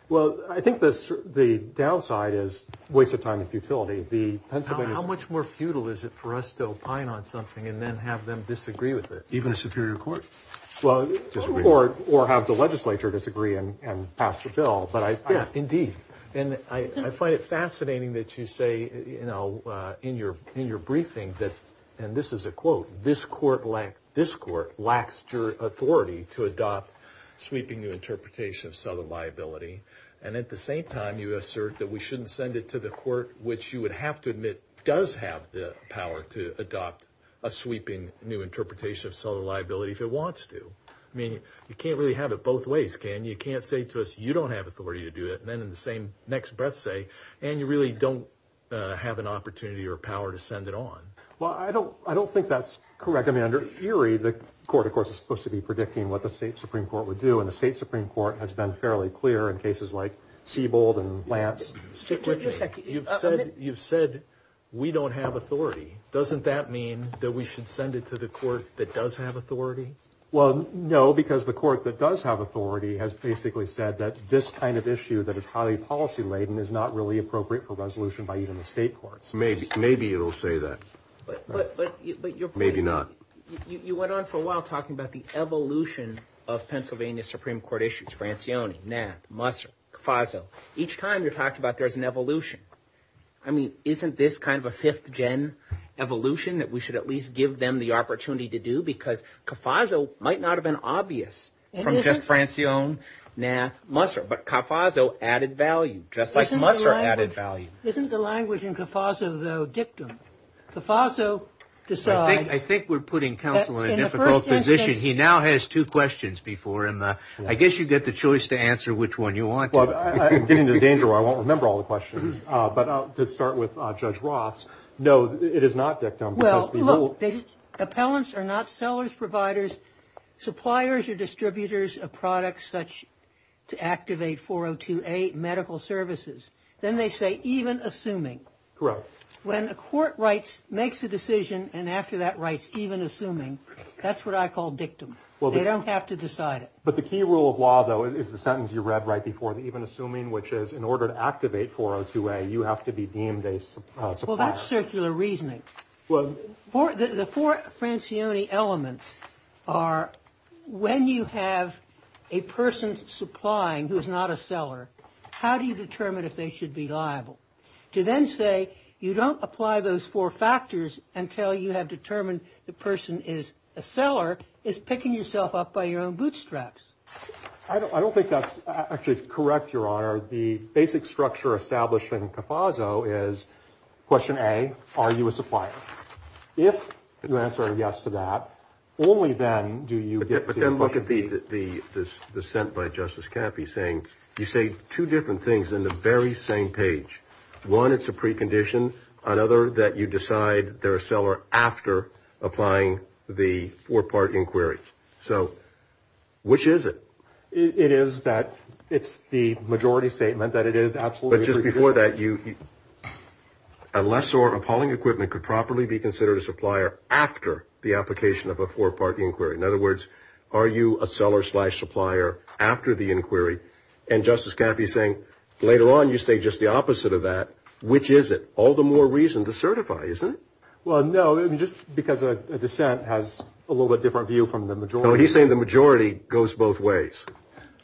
Well, I think the downside is waste of time and futility. How much more futile is it for us to opine on something and then have them disagree with it? Even a superior court? Or have the legislature disagree and pass the bill. Indeed. And I find it fascinating that you say, you know, in your briefing that, and this is a quote, this court lacks authority to adopt sweeping new interpretation of southern liability. And at the same time, you assert that we shouldn't send it to the court, which you would have to admit does have the power to adopt a sweeping new interpretation of southern liability if it wants to. I mean, you can't really have it both ways, can you? You can't say to us, you don't have authority to do it. And then in the same next breath say, and you really don't have an opportunity or power to send it on. Well, I don't think that's correct. I mean, under theory, the court, of course, is supposed to be predicting what the state Supreme Court would do. And the state Supreme Court has been fairly clear in cases like Siebold and Lance. Stick with me. You've said we don't have authority. Doesn't that mean that we should send it to the court that does have authority? Well, no, because the court that does have authority has basically said that this kind of issue that is highly policy laden is not really appropriate for resolution by even the state courts. Maybe it'll say that. Maybe not. You went on for a while talking about the evolution of Pennsylvania Supreme Court issues. Each time you're talking about there's an evolution. I mean, isn't this kind of a fifth gen evolution that we should at least give them the opportunity to do? Because Cofaso might not have been obvious from just Francione, Nath, Musser, but Cofaso added value, just like Musser added value. Isn't the language in Cofaso, though, dictum? Cofaso decides. I think we're putting counsel in a difficult position. He now has two questions before him. I guess you get the choice to answer which one you want. I'm getting into danger where I won't remember all the questions. But to start with Judge Ross, no, it is not dictum. Well, look, appellants are not sellers, providers, suppliers or distributors of products such to activate 402A medical services. Then they say even assuming. Correct. When a court makes a decision and after that writes even assuming, that's what I call dictum. Well, they don't have to decide it. But the key rule of law, though, is the sentence you read right before the even assuming, which is in order to activate 402A, you have to be deemed a supplier. Well, that's circular reasoning. The four Francione elements are when you have a person supplying who is not a seller, how do you determine if they should be liable? To then say you don't apply those four factors until you have determined the person is a seller is picking yourself up by your own bootstraps. I don't think that's actually correct, Your Honor. The basic structure established in CAFASO is question A, are you a supplier? If you answer yes to that, only then do you get to the point. I like the dissent by Justice Caffey saying you say two different things in the very same page. One, it's a precondition. Another, that you decide they're a seller after applying the four-part inquiry. So which is it? It is that it's the majority statement that it is absolutely a precondition. But just before that, unless or appalling equipment could properly be considered a supplier after the application of a four-part inquiry. In other words, are you a seller-slash-supplier after the inquiry? And Justice Caffey is saying later on you say just the opposite of that. Which is it? All the more reason to certify, isn't it? Well, no, just because a dissent has a little bit different view from the majority. No, he's saying the majority goes both ways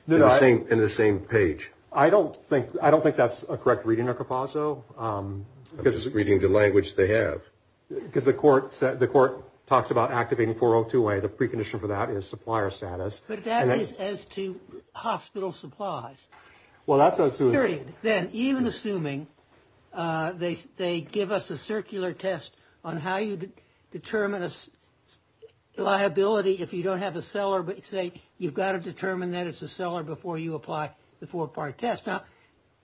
in the same page. I don't think that's a correct reading of CAFASO. That's just reading the language they have. Because the court talks about activating 402A. The precondition for that is supplier status. But that is as to hospital supplies. Period. Then, even assuming they give us a circular test on how you determine a liability if you don't have a seller, but say you've got to determine that it's a seller before you apply the four-part test. Now,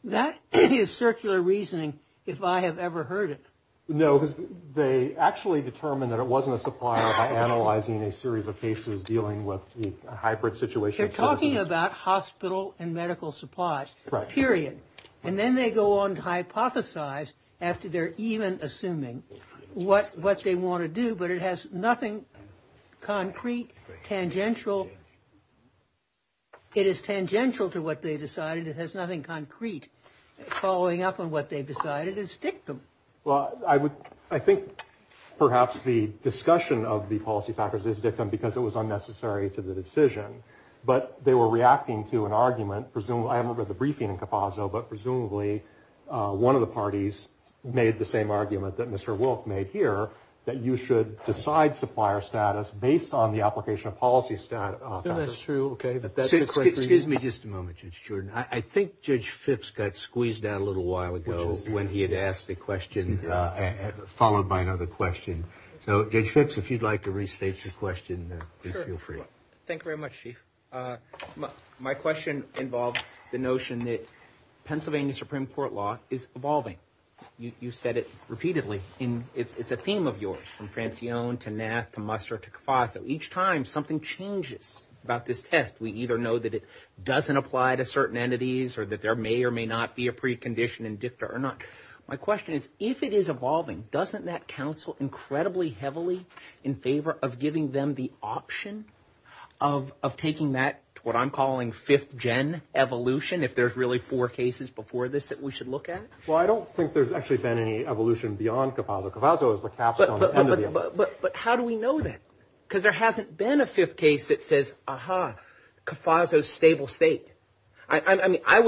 that is circular reasoning if I have ever heard it. No, because they actually determine that it wasn't a supplier by analyzing a series of cases dealing with a hybrid situation. They're talking about hospital and medical supplies. Right. Period. And then they go on to hypothesize after they're even assuming what they want to do, but it has nothing concrete, tangential. It is tangential to what they decided. It has nothing concrete. Following up on what they decided is dictum. Well, I think perhaps the discussion of the policy factors is dictum because it was unnecessary to the decision. But they were reacting to an argument. I haven't read the briefing in CAFASO, but presumably one of the parties made the same argument that Mr. Wilk made here, that you should decide supplier status based on the application of policy factors. No, that's true. Okay. Excuse me just a moment, Judge Jordan. I think Judge Fix got squeezed out a little while ago when he had asked a question followed by another question. So, Judge Fix, if you'd like to restate your question, please feel free. Thank you very much, Chief. My question involves the notion that Pennsylvania Supreme Court law is evolving. You've said it repeatedly. It's a theme of yours from Francione to Knath to Muster to CAFASO. Each time something changes about this test, we either know that it doesn't apply to certain entities or that there may or may not be a precondition in dictum or not. My question is, if it is evolving, doesn't that counsel incredibly heavily in favor of giving them the option of taking that, what I'm calling fifth gen evolution, if there's really four cases before this that we should look at? Well, I don't think there's actually been any evolution beyond CAFASO. CAFASO is the capstone. But how do we know that? Because there hasn't been a fifth case that says, aha, CAFASO's stable state. I mean, I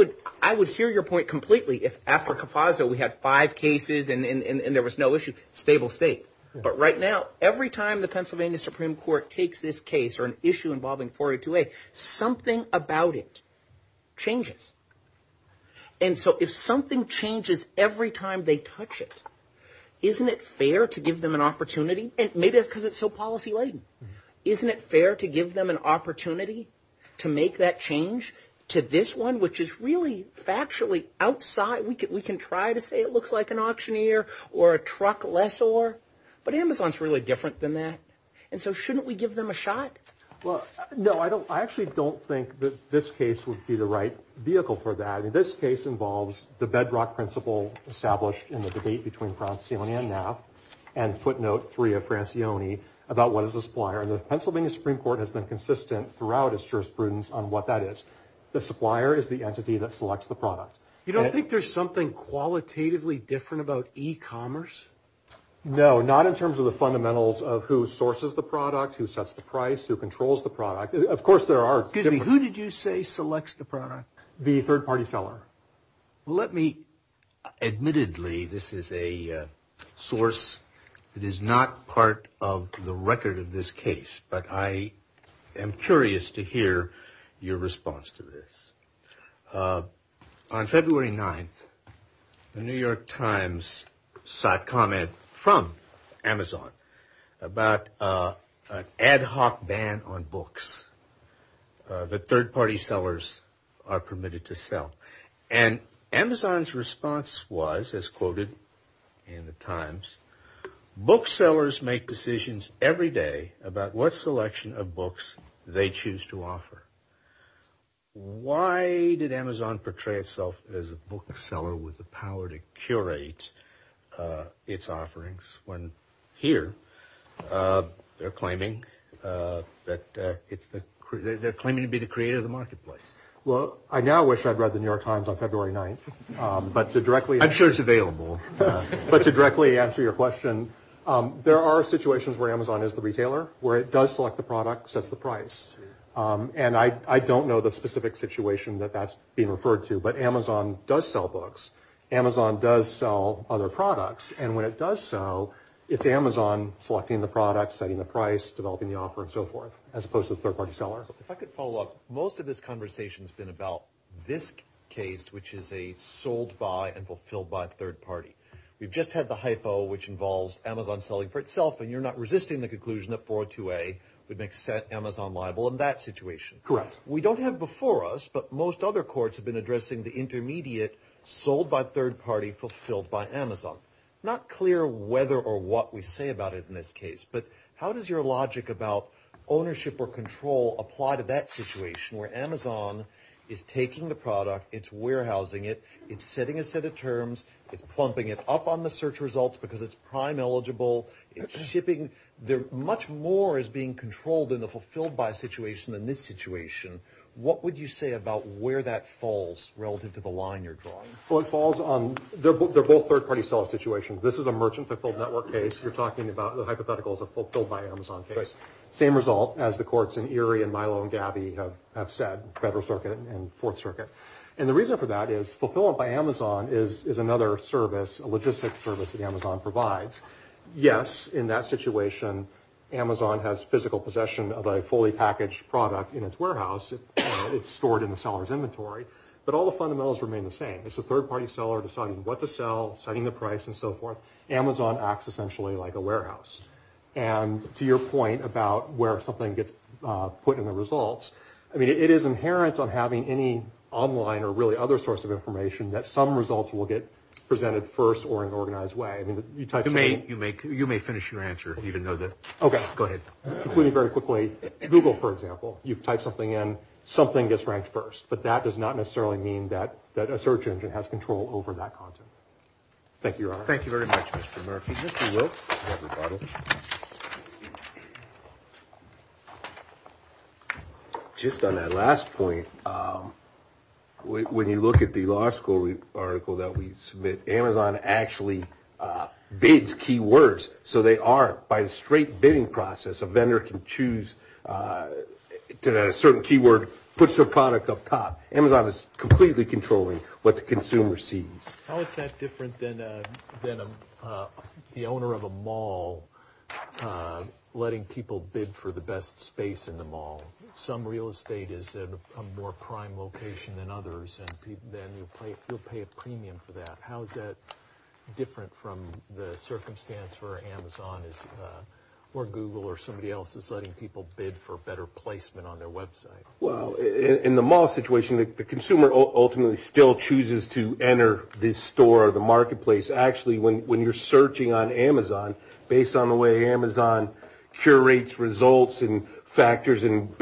would hear your point completely if after CAFASO we had five cases and there was no issue, stable state. But right now, every time the Pennsylvania Supreme Court takes this case or an issue involving 402A, something about it changes. And so if something changes every time they touch it, isn't it fair to give them an opportunity? And maybe that's because it's so policy-laden. Isn't it fair to give them an opportunity to make that change to this one, which is really factually outside? We can try to say it looks like an auctioneer or a truck lessor, but Amazon's really different than that. And so shouldn't we give them a shot? Well, no, I actually don't think that this case would be the right vehicle for that. I mean, this case involves the bedrock principle established in the debate between Francione and Naft and footnote three of Francione about what is a supplier. And the Pennsylvania Supreme Court has been consistent throughout its jurisprudence on what that is. The supplier is the entity that selects the product. You don't think there's something qualitatively different about e-commerce? No, not in terms of the fundamentals of who sources the product, who sets the price, who controls the product. Of course there are different. Excuse me, who did you say selects the product? The third party seller. Let me, admittedly, this is a source that is not part of the record of this case. But I am curious to hear your response to this. On February 9th, the New York Times sought comment from Amazon about ad hoc ban on books. The third party sellers are permitted to sell. And Amazon's response was, as quoted in the Times, booksellers make decisions every day about what selection of books they choose to offer. Why did Amazon portray itself as a bookseller with the power to curate its offerings when here they're claiming to be the creator of the marketplace? Well, I now wish I'd read the New York Times on February 9th. I'm sure it's available. But to directly answer your question, there are situations where Amazon is the retailer, where it does select the product, sets the price. And I don't know the specific situation that that's being referred to. But Amazon does sell books. Amazon does sell other products. And when it does so, it's Amazon selecting the product, setting the price, developing the offer, and so forth, as opposed to the third party seller. If I could follow up, most of this conversation has been about this case, which is a sold-by and fulfilled-by third party. We've just had the hypo, which involves Amazon selling for itself, and you're not resisting the conclusion that 42A would make Amazon liable in that situation. Correct. We don't have before us, but most other courts have been addressing the intermediate, sold-by third party, fulfilled-by Amazon. Not clear whether or what we say about it in this case, but how does your logic about ownership or control apply to that situation, where Amazon is taking the product, it's warehousing it, it's setting a set of terms, it's plumping it up on the search results because it's prime eligible, it's shipping. Much more is being controlled in the fulfilled-by situation than this situation. What would you say about where that falls relative to the line you're drawing? Well, it falls on, they're both third party seller situations. This is a merchant fulfilled network case. You're talking about the hypothetical as a fulfilled-by Amazon case. Same result as the courts in Erie and Milo and Gabby have said, Federal Circuit and Fourth Circuit. And the reason for that is fulfilled-by Amazon is another service, a logistics service that Amazon provides. Yes, in that situation, Amazon has physical possession of a fully packaged product in its warehouse. It's stored in the seller's inventory. But all the fundamentals remain the same. It's a third party seller deciding what to sell, setting the price and so forth. Amazon acts essentially like a warehouse. And to your point about where something gets put in the results, I mean, it is inherent on having any online or really other source of information that some results will get presented first or in an organized way. You may finish your answer. Okay. Go ahead. Very quickly, Google, for example. You type something in, something gets ranked first. But that does not necessarily mean that a search engine has control over that content. Thank you, Your Honor. Thank you very much, Mr. Murphy. Mr. Wilk. Just on that last point, when you look at the law school article that we submit, Amazon actually bids keywords. So they are, by the straight bidding process, a vendor can choose a certain keyword, puts their product up top. Amazon is completely controlling what the consumer sees. How is that different than the owner of a mall letting people bid for the best space in the mall? Some real estate is at a more prime location than others, and then you'll pay a premium for that. How is that different from the circumstance where Amazon or Google or somebody else is letting people bid for better placement on their website? Well, in the mall situation, the consumer ultimately still chooses to enter this store or the marketplace. Actually, when you're searching on Amazon, based on the way Amazon curates results and factors in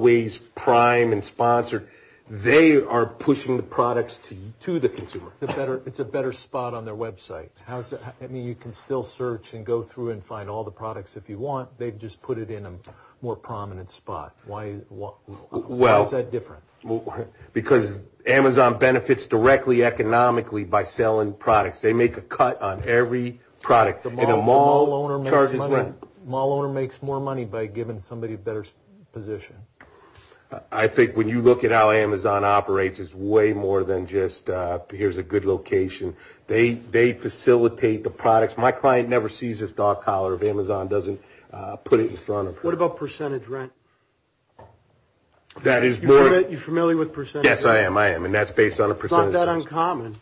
ways prime and sponsored, they are pushing the products to the consumer. It's a better spot on their website. I mean, you can still search and go through and find all the products if you want. They've just put it in a more prominent spot. Why is that different? Because Amazon benefits directly economically by selling products. They make a cut on every product. The mall owner makes more money by giving somebody a better position. I think when you look at how Amazon operates, it's way more than just here's a good location. They facilitate the products. My client never sees this dog collar if Amazon doesn't put it in front of her. What about percentage rent? You're familiar with percentage rent? Yes, I am, and that's based on a percentage. It's not that uncommon.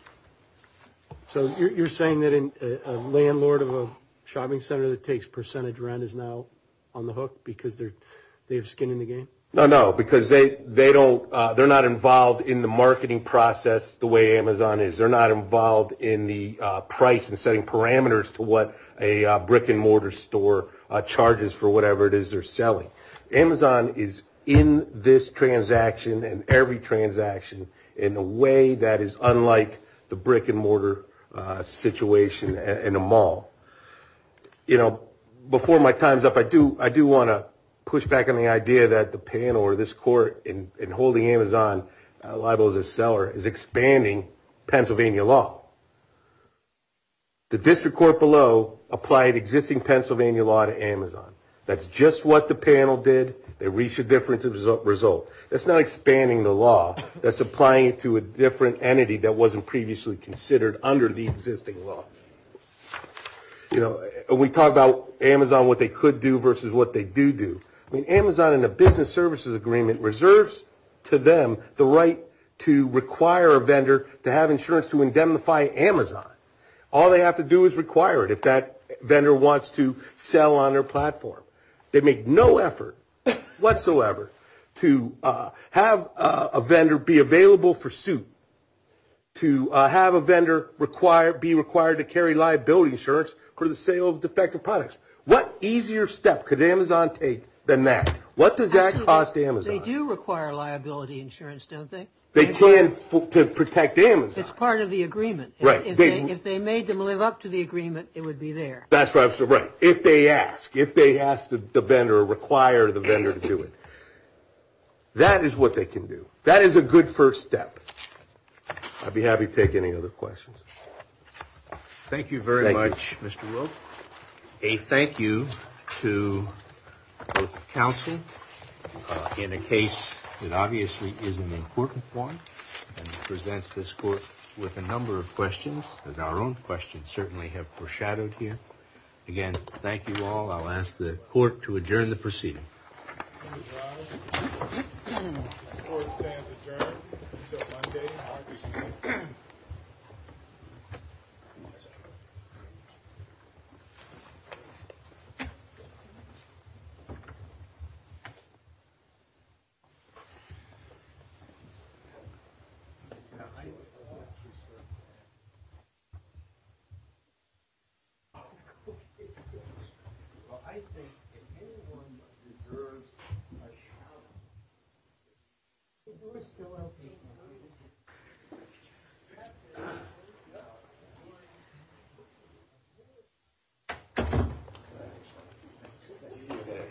So you're saying that a landlord of a shopping center that takes percentage rent is now on the hook because they have skin in the game? No, no, because they're not involved in the marketing process the way Amazon is. They're not involved in the price and setting parameters to what a brick-and-mortar store charges for whatever it is they're selling. Amazon is in this transaction and every transaction in a way that is unlike the brick-and-mortar situation in a mall. Before my time's up, I do want to push back on the idea that the panel or this court in holding Amazon liable as a seller is expanding Pennsylvania law. The district court below applied existing Pennsylvania law to Amazon. That's just what the panel did. They reached a different result. That's not expanding the law. That's applying it to a different entity that wasn't previously considered under the existing law. You know, we talk about Amazon, what they could do versus what they do do. I mean, Amazon in the business services agreement reserves to them the right to require a vendor to have insurance to indemnify Amazon. All they have to do is require it if that vendor wants to sell on their platform. They make no effort whatsoever to have a vendor be available for suit, to have a vendor be required to carry liability insurance for the sale of defective products. What easier step could Amazon take than that? What does that cost Amazon? They do require liability insurance, don't they? They can to protect Amazon. It's part of the agreement. Right. If they made them live up to the agreement, it would be there. That's right. If they ask, if they ask the vendor or require the vendor to do it, that is what they can do. That is a good first step. I'd be happy to take any other questions. Thank you very much, Mr. Wilk. A thank you to both the counsel in a case that obviously is an important one and presents this court with a number of questions, as our own questions certainly have foreshadowed here. Again, thank you all. I'll ask the court to adjourn the proceedings. Thank you.